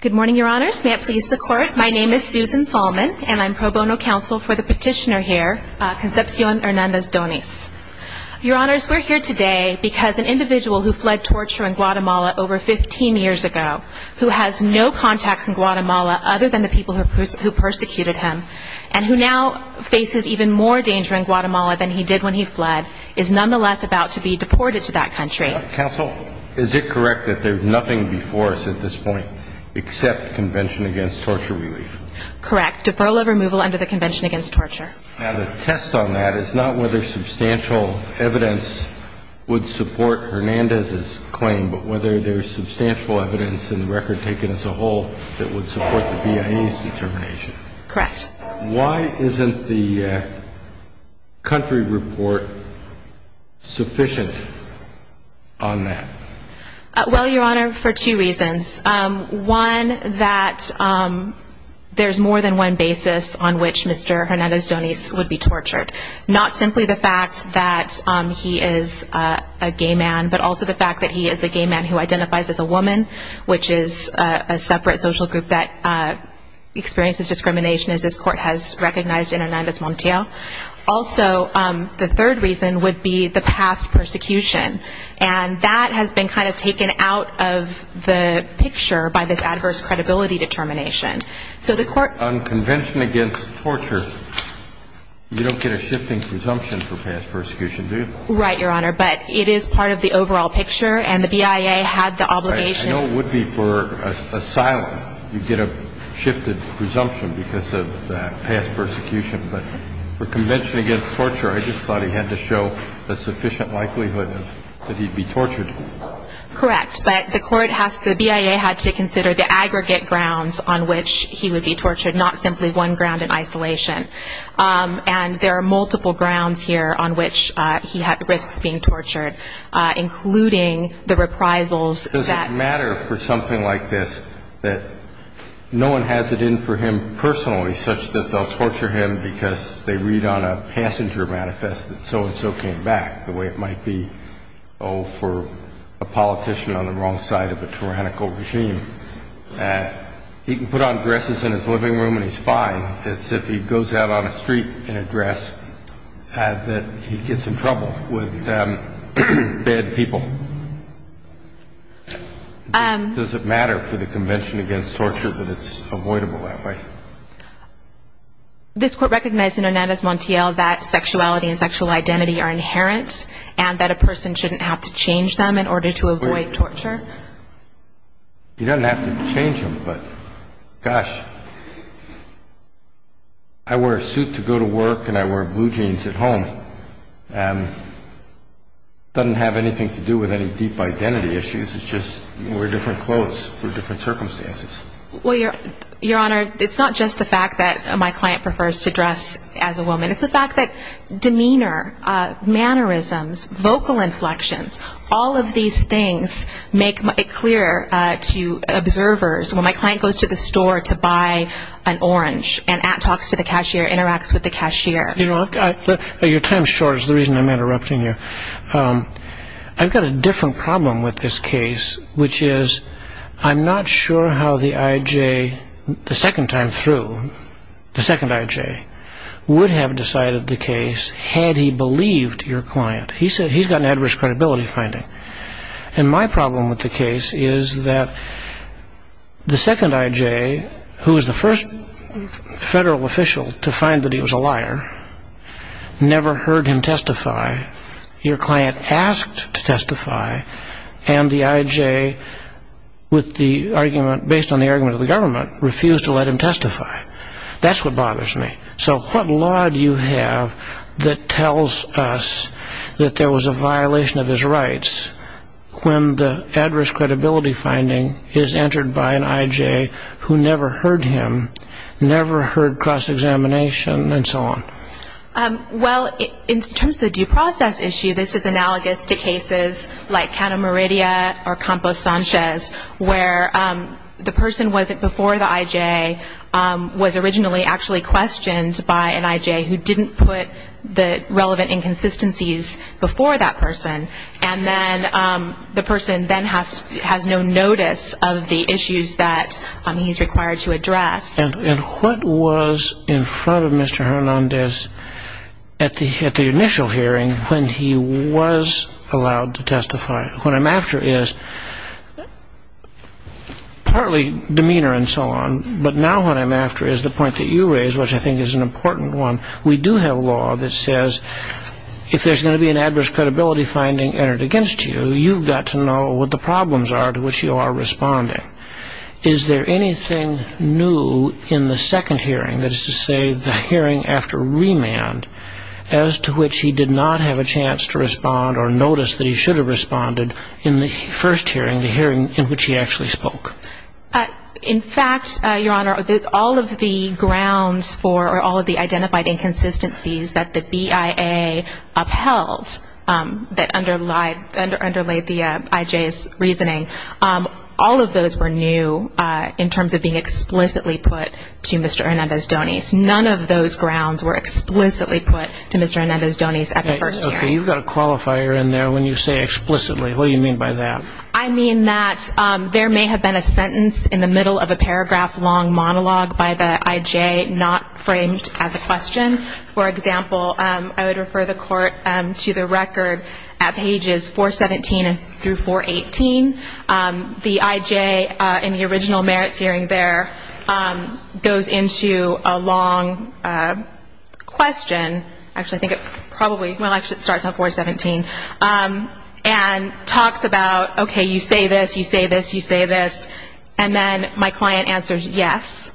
Good morning, Your Honors. May it please the Court, my name is Susan Solomon and I'm pro bono counsel for the petitioner here, Concepcion Hernandez Donis. Your Honors, we're here today because an individual who fled torture in Guatemala over 15 years ago, who has no contacts in Guatemala other than the people who persecuted him, and who now faces even more danger in Guatemala than he did when he fled, is nonetheless about to be deported to that country. Counsel, is it correct that there's nothing before us at this point except Convention Against Torture Relief? Correct. Deferral of removal under the Convention Against Torture. Now the test on that is not whether substantial evidence would support Hernandez's claim, but whether there's substantial evidence in the record taken as a whole that would support the BIA's determination. Correct. Why isn't the country report sufficient on that? Well, Your Honor, for two reasons. One, that there's more than one basis on which Mr. Hernandez Donis would be tortured. Not simply the fact that he is a gay man, but also the fact that he is a gay man who identifies as a woman, which is a separate social group that experiences discrimination as this Court has recognized Hernandez Montiel. Also, the third reason would be the past persecution. And that has been kind of taken out of the picture by this adverse credibility determination. So the Court... On Convention Against Torture, you don't get a shifting presumption for past persecution, do you? Right, Your Honor, but it is part of the overall picture, and the BIA had the obligation... I know it would be for asylum, you'd get a shifted presumption because of past persecution. But for Convention Against Torture, I just thought he had to show a sufficient likelihood that he'd be tortured. Correct. But the BIA had to consider the aggregate grounds on which he would be tortured, not simply one ground in isolation. And there are multiple grounds here on which he risks being tortured, including the reprisals that... Does it matter for something like this that no one has it in for him personally such that they'll torture him because they read on a passenger manifest that so-and-so came back, the way it might be, oh, for a politician on the wrong side of a tyrannical regime? He can put on dresses in his living room and be in trouble with bad people. Does it matter for the Convention Against Torture that it's avoidable that way? This Court recognized in Hernandez-Montiel that sexuality and sexual identity are inherent and that a person shouldn't have to change them in order to avoid torture. He doesn't have to change them, but gosh, I wear a suit to go to work and I wear blue jeans at home. Doesn't have anything to do with any deep identity issues. It's just we're different clothes for different circumstances. Well, Your Honor, it's not just the fact that my client prefers to dress as a woman. It's the fact that demeanor, mannerisms, vocal inflections, all of these things make it clear to observers. When my client goes to the store to buy an orange, and at talks to the cashier, interacts with the cashier. Your time's short is the reason I'm interrupting you. I've got a different problem with this case, which is I'm not sure how the I.J., the second time through, the second I.J., would have decided the case had he believed your client. He's got an adverse credibility finding. And my client, I.J., who was the first federal official to find that he was a liar, never heard him testify. Your client asked to testify, and the I.J., with the argument, based on the argument of the government, refused to let him testify. That's what bothers me. So what law do you have that tells us that there was a violation of his rights when the adverse credibility finding is entered by an I.J. who never heard him, never heard cross-examination, and so on? Well, in terms of the due process issue, this is analogous to cases like Cana Meridia or Campos Sanchez, where the person before the I.J. was originally actually questioned by an I.J. who didn't put the relevant inconsistencies before that person. And then the person then has no notice of the issues that he's required to address. And what was in front of Mr. Hernandez at the initial hearing when he was allowed to testify? What I'm after is partly demeanor and so on, but now what I'm after is the point that you raise, which I think is an important one. We do have law that says if there's going to be a violation of the I.J.'s rights, there's going to be a violation of the I.J.'s rights. So what the problems are to which you are responding, is there anything new in the second hearing, that is to say the hearing after remand, as to which he did not have a chance to respond or notice that he should have responded in the first hearing, the hearing in which he actually spoke? In fact, Your Honor, all of the grounds for or all of the identified inconsistencies that the BIA upheld that underlayed the I.J.'s reasoning, all of those were new in terms of being explicitly put to Mr. Hernandez-Doniz. None of those grounds were explicitly put to Mr. Hernandez-Doniz at the first hearing. Okay. You've got a qualifier in there when you say explicitly. What do you mean by that? I mean that there may have been a sentence in the middle of a paragraph-long monologue by the I.J. not framed as a question. For example, I would refer the Court to the record at pages 417 through 418. The I.J. in the original merits hearing there goes into a long question, actually I think it probably, well, actually it starts on 417, and talks about, okay, you say this, you say this, you say this, and then my client answers, yes,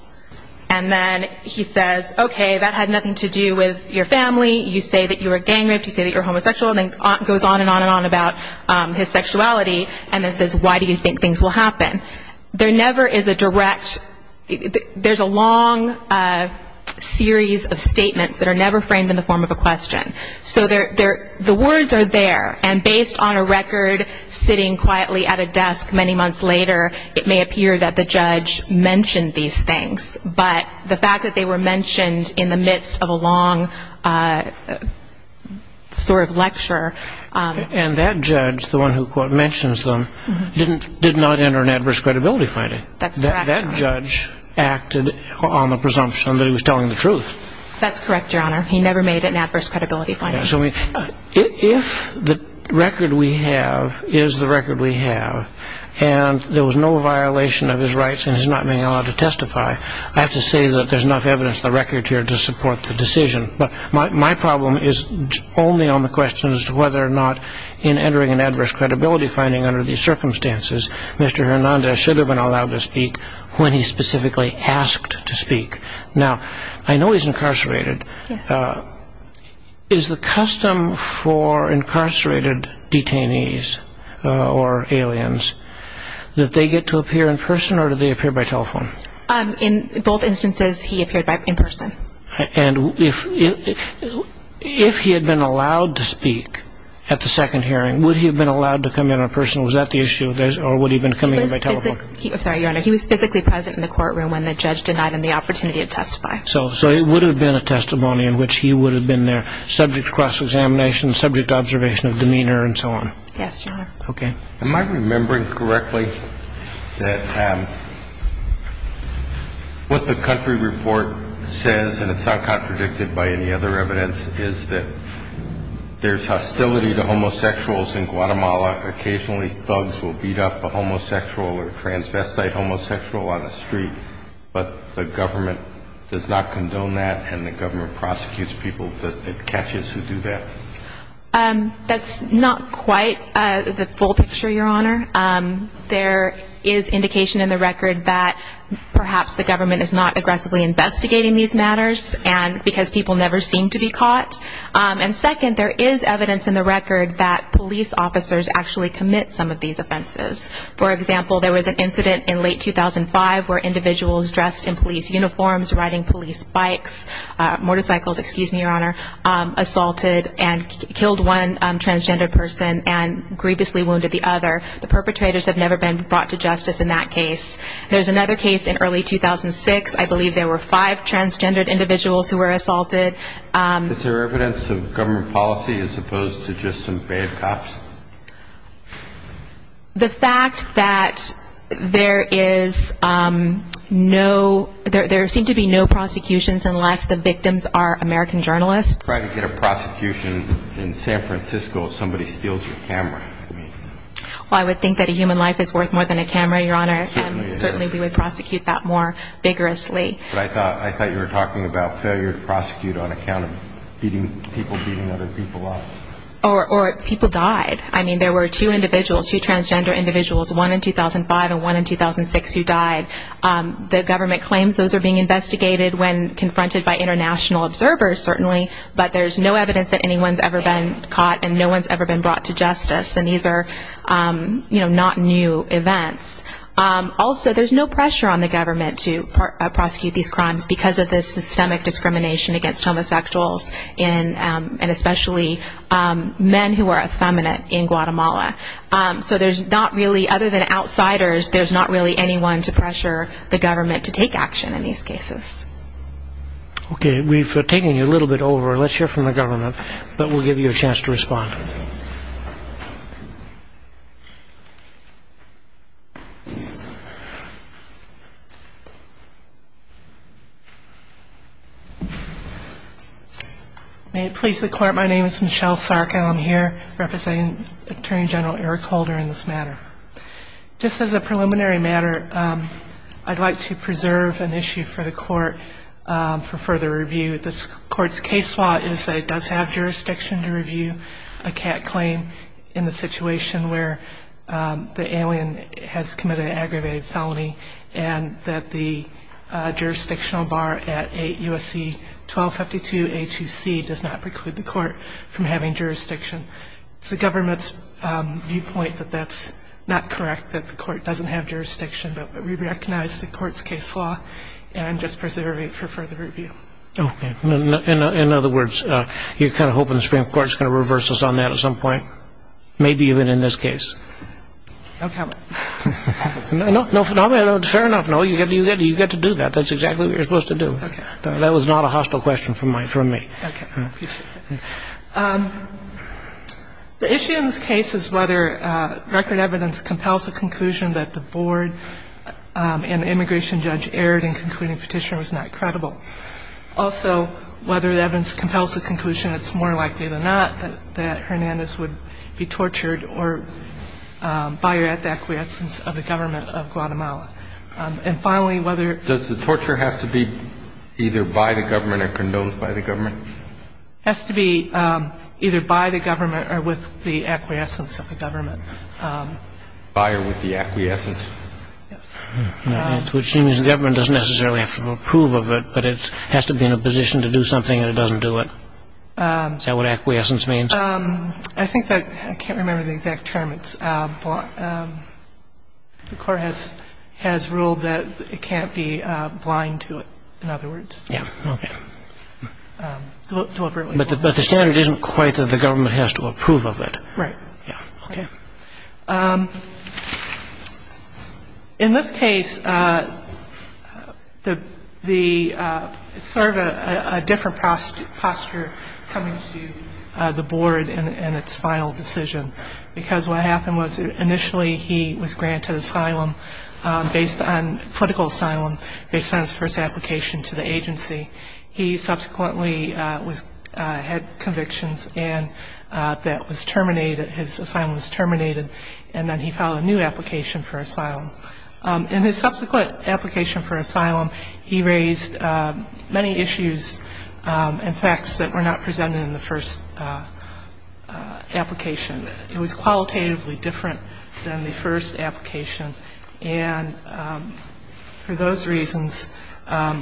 and then he says, okay, that had nothing to do with your family, you say that you were gang-raped, you say that you're homosexual, and then goes on and on and on about his sexuality and then says, why do you think things will happen? There never is a direct, there's a long series of statements that are never framed in the question. So the words are there, and based on a record sitting quietly at a desk many months later, it may appear that the judge mentioned these things, but the fact that they were mentioned in the midst of a long sort of lecture... And that judge, the one who mentions them, did not enter an adverse credibility finding. That's correct, Your Honor. That judge acted on the presumption that he was telling the truth. That's correct, Your Honor. He never made an adverse credibility finding. So if the record we have is the record we have, and there was no violation of his rights and he's not being allowed to testify, I have to say that there's enough evidence in the record here to support the decision. But my problem is only on the question as to whether or not in entering an adverse credibility finding under these circumstances, Mr. Hernandez should have been allowed to speak when he specifically asked to speak. Now, I know he's incarcerated. Is the custom for incarcerated detainees or aliens that they get to appear in person or do they appear by telephone? In both instances, he appeared in person. And if he had been allowed to speak at the second hearing, would he have been allowed to come in in person? Was that the issue, or would he have been coming in by telephone? He was physically present in the courtroom when the judge denied him the opportunity to testify. So it would have been a testimony in which he would have been there, subject to cross examination, subject to observation of demeanor and so on? Yes, Your Honor. Okay. Am I remembering correctly that what the country report says, and it's not contradicted by any other evidence, is that there's hostility to homosexuals in Guatemala. Occasionally, thugs will beat up a homosexual or a transvestite homosexual on the street. But the government does not condone that, and the government prosecutes people that it catches who do that? That's not quite the full picture, Your Honor. There is indication in the record that perhaps the government is not aggressively investigating these matters because people never seem to be caught. And second, there is evidence in the record that police officers actually commit some of these offenses. For example, there was an incident in late 2005 where individuals dressed in police uniforms, riding police bikes, motorcycles, excuse me, Your Honor, assaulted and killed one transgender person and grievously wounded the other. The perpetrators have never been brought to justice in that case. There's another case in early 2006. I believe there were five transgendered individuals who were assaulted. Is there evidence of government policy as opposed to just some bad cops? The fact that there is no – there seem to be no prosecutions unless the victims are American journalists. Try to get a prosecution in San Francisco if somebody steals your camera. Well, I would think that a human life is worth more than a camera, Your Honor. Certainly it is. And certainly we would prosecute that more vigorously. But I thought you were talking about failure to prosecute on account of people beating other people up. Or people died. I mean, there were two individuals, two transgender individuals, one in 2005 and one in 2006 who died. The government claims those are being investigated when confronted by international observers, certainly, but there's no evidence that anyone's ever been caught and no one's ever been brought to justice. And these are, you know, not new events. Also, there's no pressure on the government to prosecute these crimes because of the systemic discrimination against homosexuals and especially men who are effeminate in Guatemala. So there's not really – other than outsiders, there's not really anyone to pressure the government to take action in these cases. Okay. We've taken you a little bit over. Let's hear from the government. But we'll give you a chance to respond. Thank you. May it please the Court, my name is Michelle Sarko. I'm here representing Attorney General Eric Holder in this matter. Just as a preliminary matter, I'd like to preserve an issue for the Court for further review. This Court's case law is that it does have jurisdiction to review a CAT claim in the situation where the alien has committed an aggravated felony and that the jurisdictional bar at 8 U.S.C. 1252-A2C does not preclude the Court from having jurisdiction. It's the government's viewpoint that that's not correct, that the Court doesn't have jurisdiction, but we recognize the Court's case law and just preserve it for further review. Okay. In other words, you're kind of hoping the Supreme Court's going to reverse us on that at some point? Maybe even in this case. No comment. No, no, no. Fair enough. No, you get to do that. That's exactly what you're supposed to do. Okay. That was not a hostile question from my — from me. Okay. I appreciate it. The issue in this case is whether record evidence compels the conclusion that the board and the immigration judge erred in concluding the petitioner was not credible. Also, whether the evidence compels the conclusion it's more likely than not that Hernandez would be tortured or buyer at the acquiescence of the government of Guatemala. And finally, whether — Does the torture have to be either by the government or condoned by the government? Has to be either by the government or with the acquiescence of the government. Buyer with the acquiescence. Yes. Which means the government doesn't necessarily have to approve of it, but it has to be in a position to do something and it doesn't do it. Is that what acquiescence means? I think that — I can't remember the exact term. It's — the court has ruled that it can't be blind to it, in other words. Yeah. Okay. Deliberately blind. But the standard isn't quite that the government has to approve of it. Right. Yeah. Okay. In this case, the — it's sort of a different posture coming to the board in its final decision because what happened was initially he was granted asylum based on — political asylum based on his first application to the agency. He subsequently was — had convictions and that was terminated. His asylum was terminated and then he filed a new application for asylum. In his subsequent application for asylum, he raised many issues and facts that were not presented in the first application. It was qualitatively different than the first application. And for those reasons,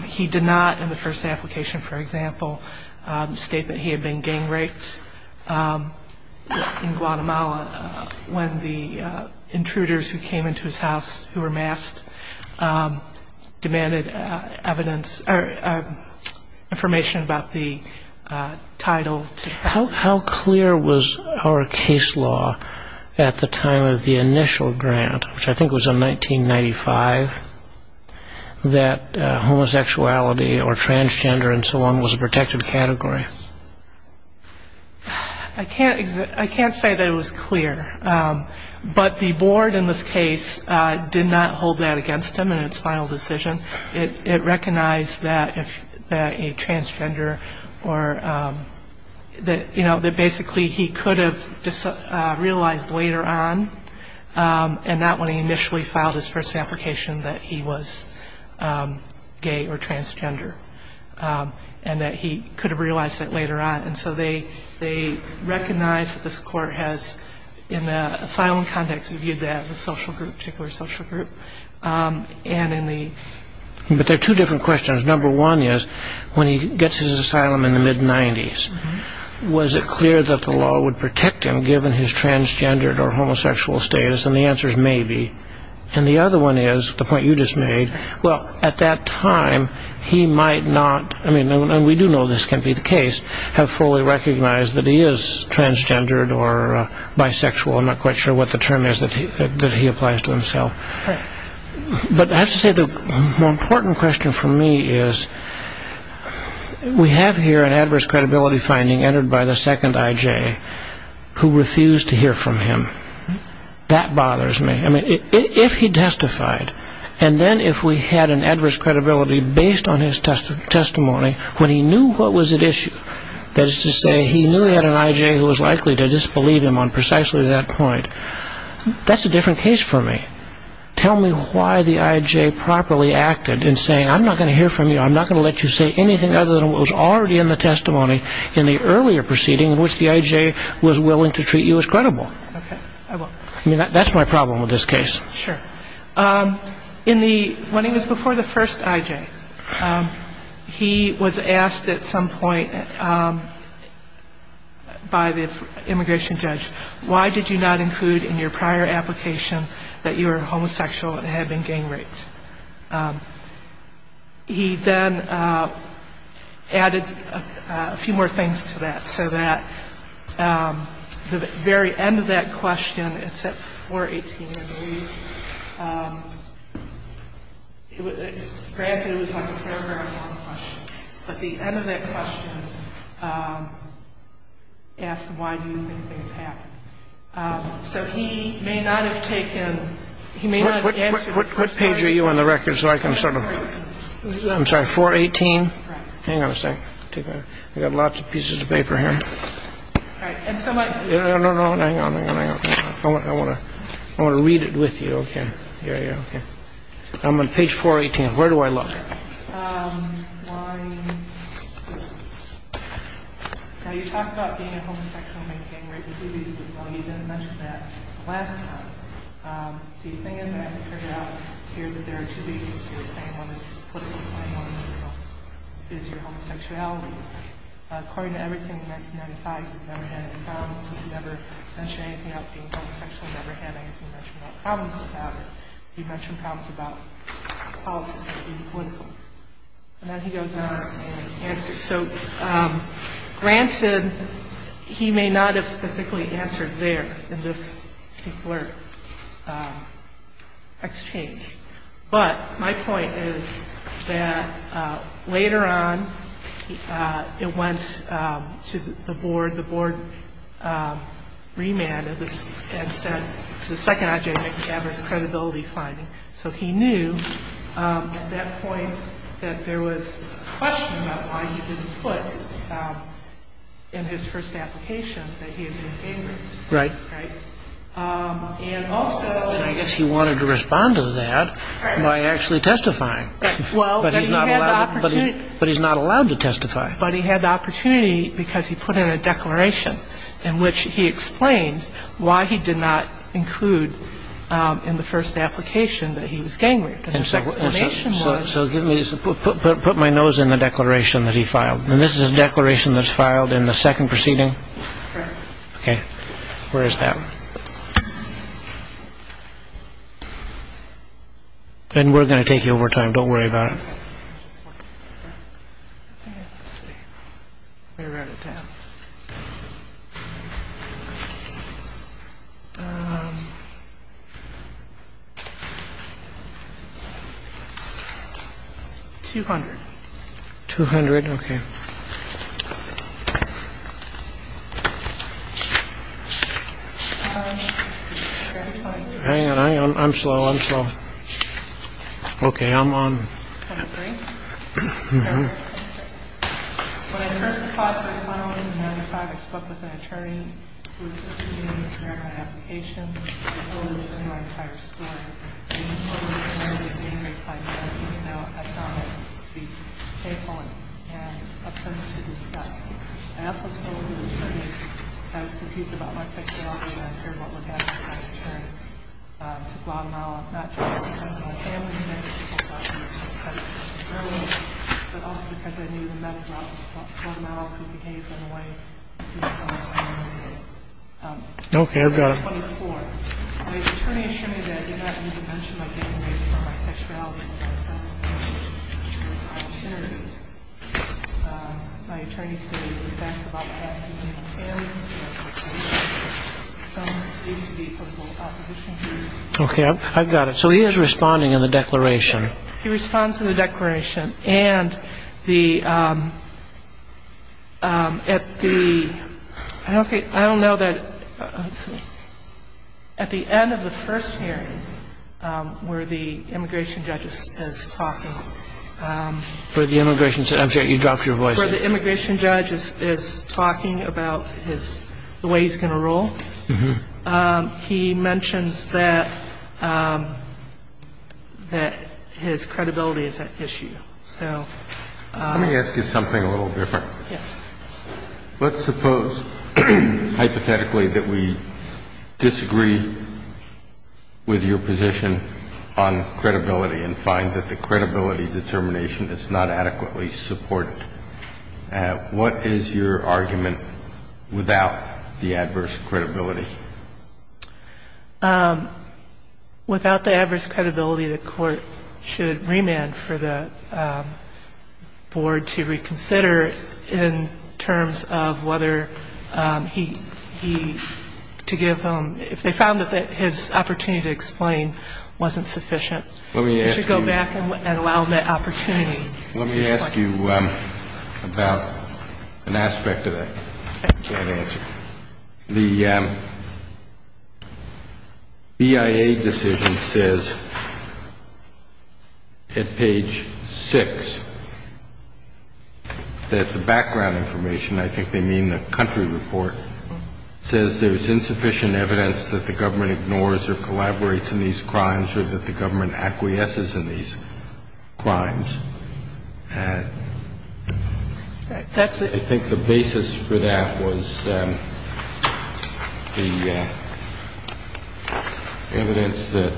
he did not in the first application, for example, state that he had been gang raped in Guatemala when the intruders who came into his house who were masked demanded evidence — or information about the title to — How clear was our case law at the time of the initial grant, which I think was in 1995, that homosexuality or transgender and so on was a protected category? I can't say that it was clear. But the board in this case did not hold that against him in its final decision. It recognized that a transgender or — that basically he could have realized later on and not when he initially filed his first application that he was gay or transgender and that he could have realized that later on. And so they recognized that this court has, in the asylum context, viewed that as a social group, a particular social group. But there are two different questions. Number one is, when he gets his asylum in the mid-'90s, was it clear that the law would protect him given his transgendered or homosexual status? And the answer is maybe. And the other one is — the point you just made — well, at that time, he might not — and we do know this can be the case — have fully recognized that he is transgendered or bisexual. I'm not quite sure what the term is that he applies to himself. But I have to say the more important question for me is, we have here an adverse credibility finding entered by the second I.J. who refused to hear from him. That bothers me. I mean, if he testified, and then if we had an adverse credibility based on his testimony, when he knew what was at issue — that is to say, he knew he had an I.J. who was likely to disbelieve him on precisely that point. That's a different case for me. Tell me why the I.J. properly acted in saying, I'm not going to hear from you, I'm not going to let you say anything other than what was already in the testimony in the earlier proceeding in which the I.J. was willing to treat you as credible. Okay. I will. I mean, that's my problem with this case. Sure. In the — when he was before the first I.J., he was asked at some point by the immigration judge, why did you not include in your prior application that you were homosexual and had been gang raped? He then added a few more things to that, so that the very end of that question, it's at 418, I believe — granted, it was like a very, very long question, but the end of that question asked, why do you think things happened? So he may not have taken — he may not have answered — What page are you on the record so I can sort of — I'm sorry, 418? Right. Hang on a second. I've got lots of pieces of paper here. All right. And so what — No, no, no. Hang on, hang on, hang on. I want to — I want to read it with you. Okay. Yeah, yeah. Okay. I'm on page 418. Where do I look? Why — well, you talk about being a homosexual and being gang raped, but you didn't mention that last time. See, the thing is, I haven't figured out here, but there are two pieces to your claim. One is political claim. One is your homosexuality. According to everything in 1995, you've never had any problems. You've never mentioned anything about being homosexual. You've never had anything to mention about problems you've had. You've mentioned problems about politics and being political. And then he goes on and answers. So granted, he may not have specifically answered there in this particular exchange, but my point is that later on it went to the board. The board remanded this and said it's the second object of adverse credibility finding. So he knew at that point that there was a question about why he didn't put in his first application that he had been gang raped. Right. Right. And also — And I guess he wanted to respond to that by actually testifying. But he's not allowed to testify. But he had the opportunity because he put in a declaration in which he explained why he did not include in the first application that he was gang raped. And the second explanation was — So put my nose in the declaration that he filed. And this is a declaration that's filed in the second proceeding? Correct. Okay. Where is that? Ben, we're going to take you over time. Don't worry about it. 200. 200? Okay. Hang on, I'm slow. I'm slow. Okay, I'm on. Okay, I've got it. Okay, I've got it. So he is responding in the declaration. Yes, he responds in the declaration. And the — at the — I don't know that — at the end of the first hearing where the immigration judge is talking — Where the immigration judge — I'm sorry, you dropped your voice. Where the immigration judge is talking about his — the way he's going to rule, he mentions that his credibility is at issue. So — Let me ask you something a little different. Yes. Let's suppose hypothetically that we disagree with your position on credibility and find that the credibility determination is not adequately supported. What is your argument without the adverse credibility? Without the adverse credibility, the court should remand for the board to reconsider in terms of whether he — to give him — if they found that his opportunity to explain wasn't sufficient. Let me ask you — They should go back and allow that opportunity. Let me ask you about an aspect of that I can't answer. The BIA decision says at page 6 that the background information, I think they mean the country report, says there's insufficient evidence that the government ignores or collaborates in these crimes or that the government acquiesces in these crimes. I think the basis for that was the evidence that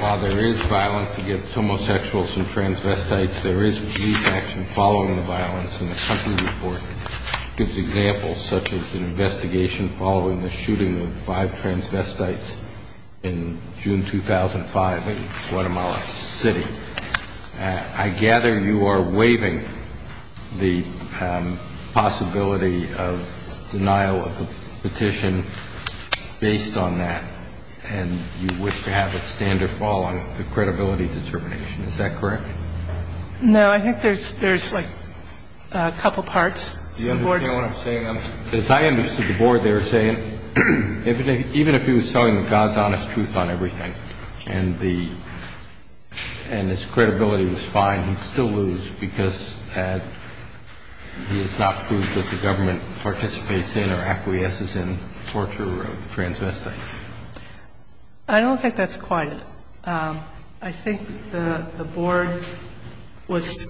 while there is violence against homosexuals and transvestites, there is police action following the violence in the country report. It gives examples such as an investigation following the shooting of five transvestites in June 2005 in Guatemala City. I gather you are waiving the possibility of denial of the petition based on that, and you wish to have it stand or fall on the credibility determination. Is that correct? No, I think there's like a couple parts. Do you understand what I'm saying? As I understood the board, they were saying even if he was telling the God's honest truth on everything and his credibility was fine, he'd still lose because he has not proved that the government participates in or acquiesces in torture of transvestites. I don't think that's quite it. I think the board was,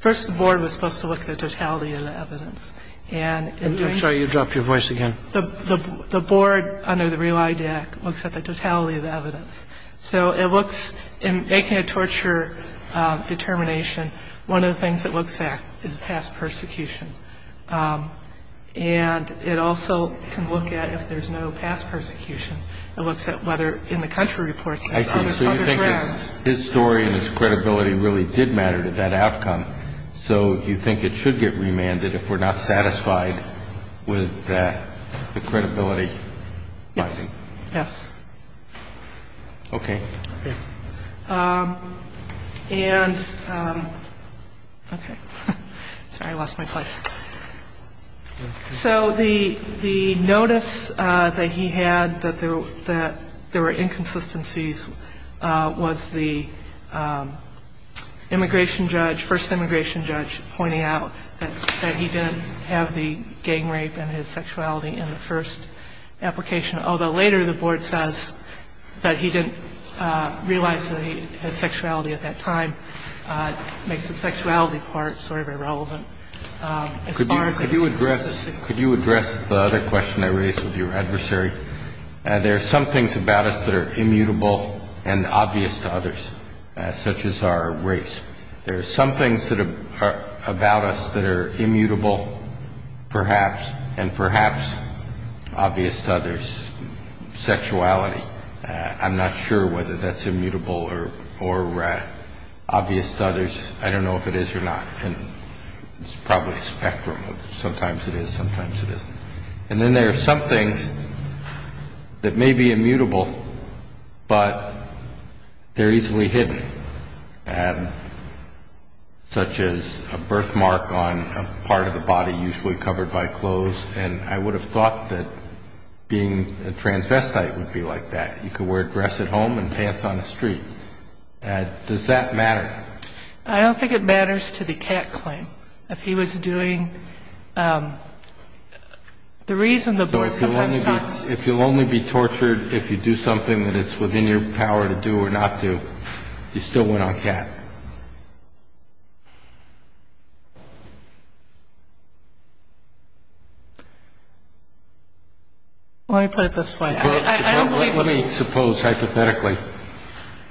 first the board was supposed to look at the totality of the evidence. I'm sorry, you dropped your voice again. The board under the Real ID Act looks at the totality of the evidence. So it looks, in making a torture determination, one of the things it looks at is past persecution. And it also can look at if there's no past persecution. It looks at whether in the country reports there's other grounds. I see. So you think if his story and his credibility really did matter to that outcome, so you think it should get remanded if we're not satisfied with the credibility? Yes. Yes. Okay. Yeah. And, okay. Sorry, I lost my place. So the notice that he had that there were inconsistencies was the immigration judge, first immigration judge, pointing out that he didn't have the gang rape and his sexuality in the first application, although later the board says that he didn't realize that he had sexuality at that time. It makes the sexuality part sort of irrelevant. Could you address the other question I raised with your adversary? There are some things about us that are immutable and obvious to others, such as our race. There are some things about us that are immutable, perhaps, and perhaps obvious to others, sexuality. I'm not sure whether that's immutable or obvious to others. I don't know if it is or not. It's probably a spectrum of sometimes it is, sometimes it isn't. And then there are some things that may be immutable, but they're easily hidden, such as a birthmark on a part of the body usually covered by clothes, and I would have thought that being a transvestite would be like that. You could wear dress at home and pants on the street. Does that matter? I don't think it matters to the Cat claim. If he was doing the reason the board supports cats. So if you'll only be tortured if you do something that it's within your power to do or not do, you still went on Cat. Let me put it this way. Let me suppose hypothetically,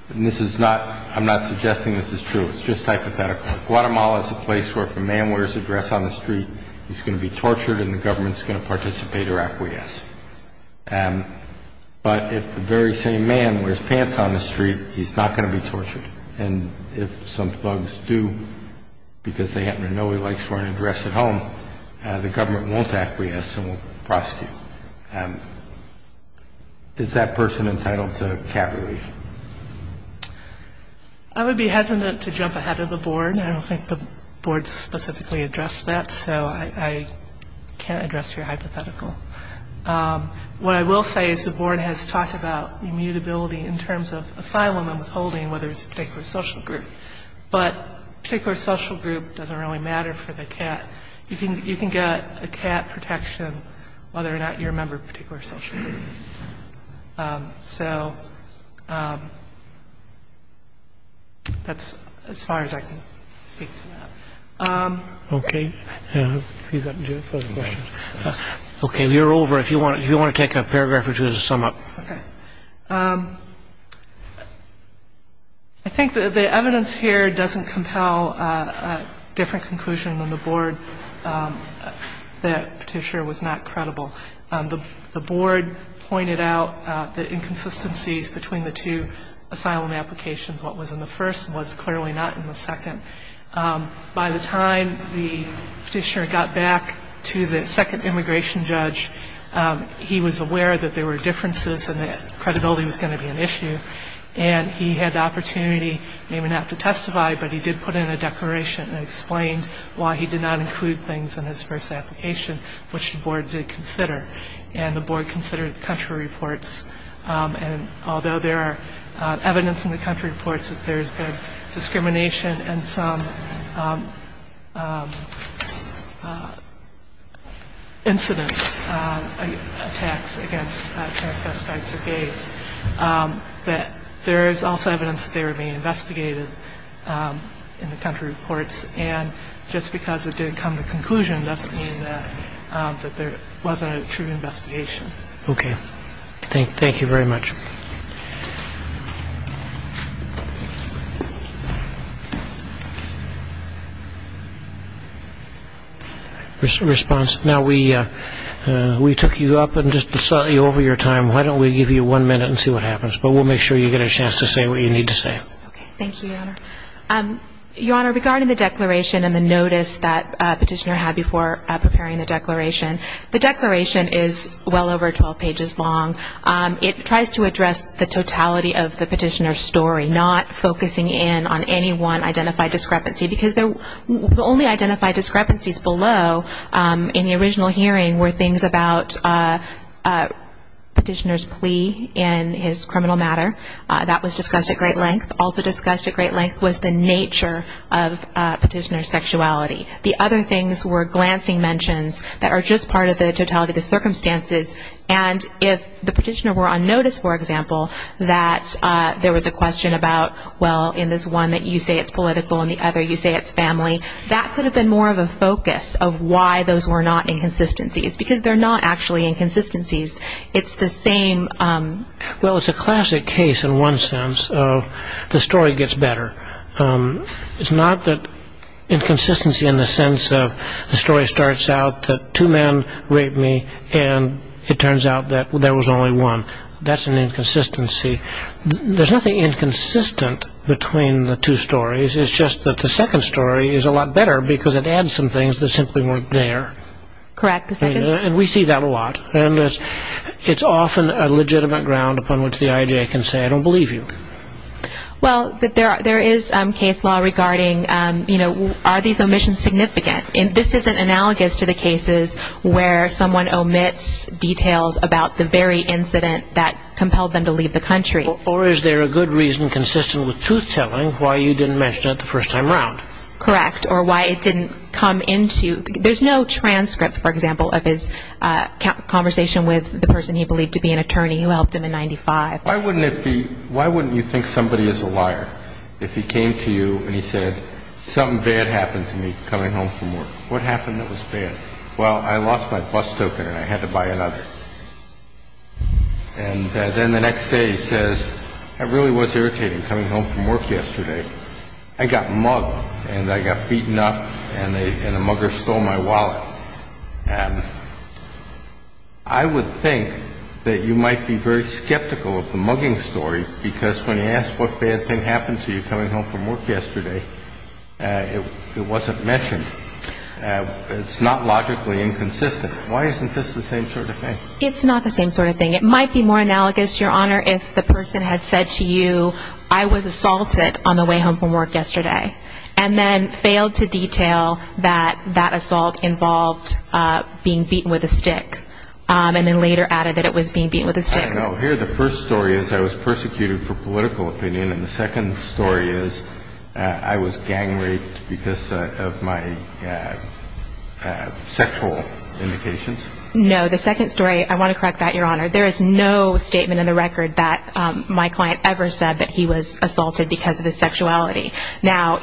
and this is not, I'm not suggesting this is true, it's just hypothetical. Guatemala is a place where if a man wears a dress on the street, he's going to be tortured and the government's going to participate or acquiesce. But if the very same man wears pants on the street, he's not going to be tortured. And if some thugs do, because they happen to know he likes to wear a dress at home, the government won't acquiesce and won't prosecute. Is that person entitled to Cat relief? I would be hesitant to jump ahead of the board. I don't think the board specifically addressed that, so I can't address your hypothetical. What I will say is the board has talked about immutability in terms of asylum and withholding, whether it's a particular social group. But a particular social group doesn't really matter for the Cat. You can get a Cat protection whether or not you're a member of a particular social group. So that's as far as I can speak to that. Okay. Okay, we are over. If you want to take a paragraph or two to sum up. Okay. I think the evidence here doesn't compel a different conclusion than the board that Petitioner was not credible. The board pointed out the inconsistencies between the two asylum applications. What was in the first was clearly not in the second. By the time the Petitioner got back to the second immigration judge, he was aware that there were differences and that credibility was going to be an issue. And he had the opportunity, maybe not to testify, but he did put in a declaration that explained why he did not include things in his first application, which the board did consider. And the board considered the country reports. And although there are evidence in the country reports that there's been discrimination and some incident attacks against transvestites or gays, that there is also evidence that they were being investigated in the country reports. And just because it didn't come to conclusion doesn't mean that there wasn't a true investigation. Okay. Thank you very much. Response. Now, we took you up and just slightly over your time. Why don't we give you one minute and see what happens. But we'll make sure you get a chance to say what you need to say. Okay. Thank you, Your Honor. Your Honor, regarding the declaration and the notice that Petitioner had before preparing the declaration, the declaration is well over 12 pages long. It tries to address the totality of the Petitioner's story, not focusing in on any one identified discrepancy. Because the only identified discrepancies below in the original hearing were things about Petitioner's plea in his criminal matter. That was discussed at great length. Also discussed at great length was the nature of Petitioner's sexuality. The other things were glancing mentions that are just part of the totality of the circumstances. And if the Petitioner were on notice, for example, that there was a question about, well, in this one that you say it's political, in the other you say it's family, that could have been more of a focus of why those were not inconsistencies. Because they're not actually inconsistencies. It's the same. Well, it's a classic case in one sense of the story gets better. It's not that inconsistency in the sense of the story starts out that two men raped me and it turns out that there was only one. That's an inconsistency. There's nothing inconsistent between the two stories. It's just that the second story is a lot better because it adds some things that simply weren't there. Correct. And we see that a lot. And it's often a legitimate ground upon which the IAJ can say, I don't believe you. Well, there is case law regarding, you know, are these omissions significant? This isn't analogous to the cases where someone omits details about the very incident that compelled them to leave the country. Or is there a good reason consistent with truth-telling why you didn't mention it the first time around? Correct. Or why it didn't come into, there's no transcript, for example, of his conversation with the person he believed to be an attorney who helped him in 95. Why wouldn't it be, why wouldn't you think somebody is a liar if he came to you and he said, something bad happened to me coming home from work. What happened that was bad? Well, I lost my bus token and I had to buy another. And then the next day he says, I really was irritated coming home from work yesterday. I got mugged and I got beaten up and a mugger stole my wallet. I would think that you might be very skeptical of the mugging story, because when you ask what bad thing happened to you coming home from work yesterday, it wasn't mentioned. It's not logically inconsistent. Why isn't this the same sort of thing? It's not the same sort of thing. It might be more analogous, Your Honor, if the person had said to you, I was assaulted on the way home from work yesterday, and then failed to detail that that assault involved being beaten with a stick, and then later added that it was being beaten with a stick. No, here the first story is I was persecuted for political opinion, and the second story is I was gang raped because of my sexual indications. No, the second story, I want to correct that, Your Honor. There is no statement in the record that my client ever said that he was assaulted because of his sexuality. Now,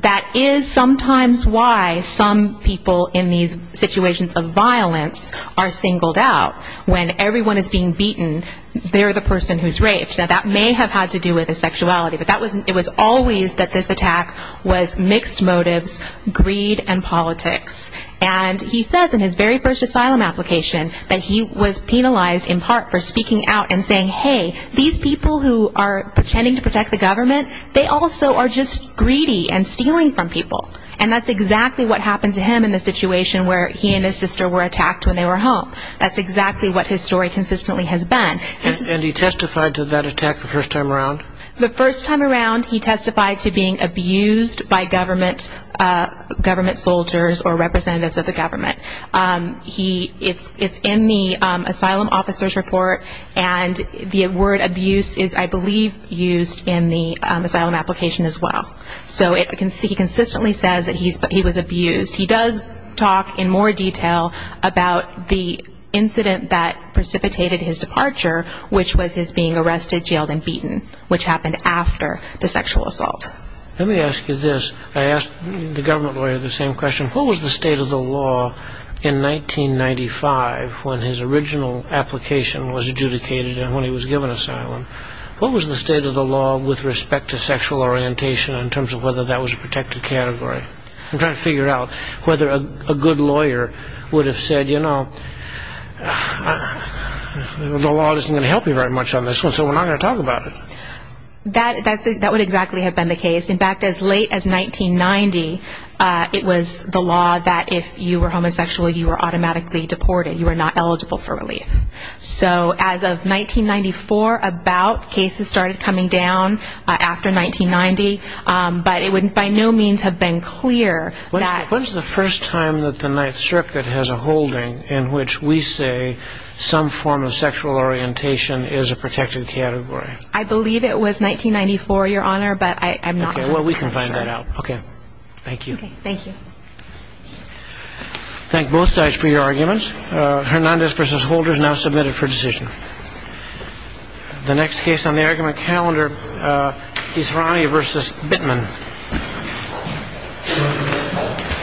that is sometimes why some people in these situations of violence are singled out. When everyone is being beaten, they're the person who's raped. Now, that may have had to do with his sexuality, but it was always that this attack was mixed motives, greed, and politics. And he says in his very first asylum application that he was penalized in part for speaking out and saying, hey, these people who are pretending to protect the government, they also are just greedy and stealing from people. And that's exactly what happened to him in the situation where he and his sister were attacked when they were home. That's exactly what his story consistently has been. And he testified to that attack the first time around? The first time around, he testified to being abused by government soldiers or representatives of the government. It's in the asylum officer's report. And the word abuse is, I believe, used in the asylum application as well. So he consistently says that he was abused. He does talk in more detail about the incident that precipitated his departure, which was his being arrested, jailed, and beaten, which happened after the sexual assault. Let me ask you this. I asked the government lawyer the same question. What was the state of the law in 1995 when his original application was adjudicated and when he was given asylum? What was the state of the law with respect to sexual orientation in terms of whether that was a protected category? I'm trying to figure out whether a good lawyer would have said, you know, the law isn't going to help you very much on this one, so we're not going to talk about it. That would exactly have been the case. In fact, as late as 1990, it was the law that if you were homosexual, you were automatically deported. You were not eligible for relief. So as of 1994, about, cases started coming down after 1990. But it would by no means have been clear. When's the first time that the Ninth Circuit has a holding in which we say some form of sexual orientation is a protected category? I believe it was 1994, Your Honor, but I'm not sure. Okay, well, we can find that out. Okay. Thank you. Okay, thank you. Thank both sides for your arguments. Hernandez v. Holder is now submitted for decision. The next case on the argument calendar is Herani v. Bittman.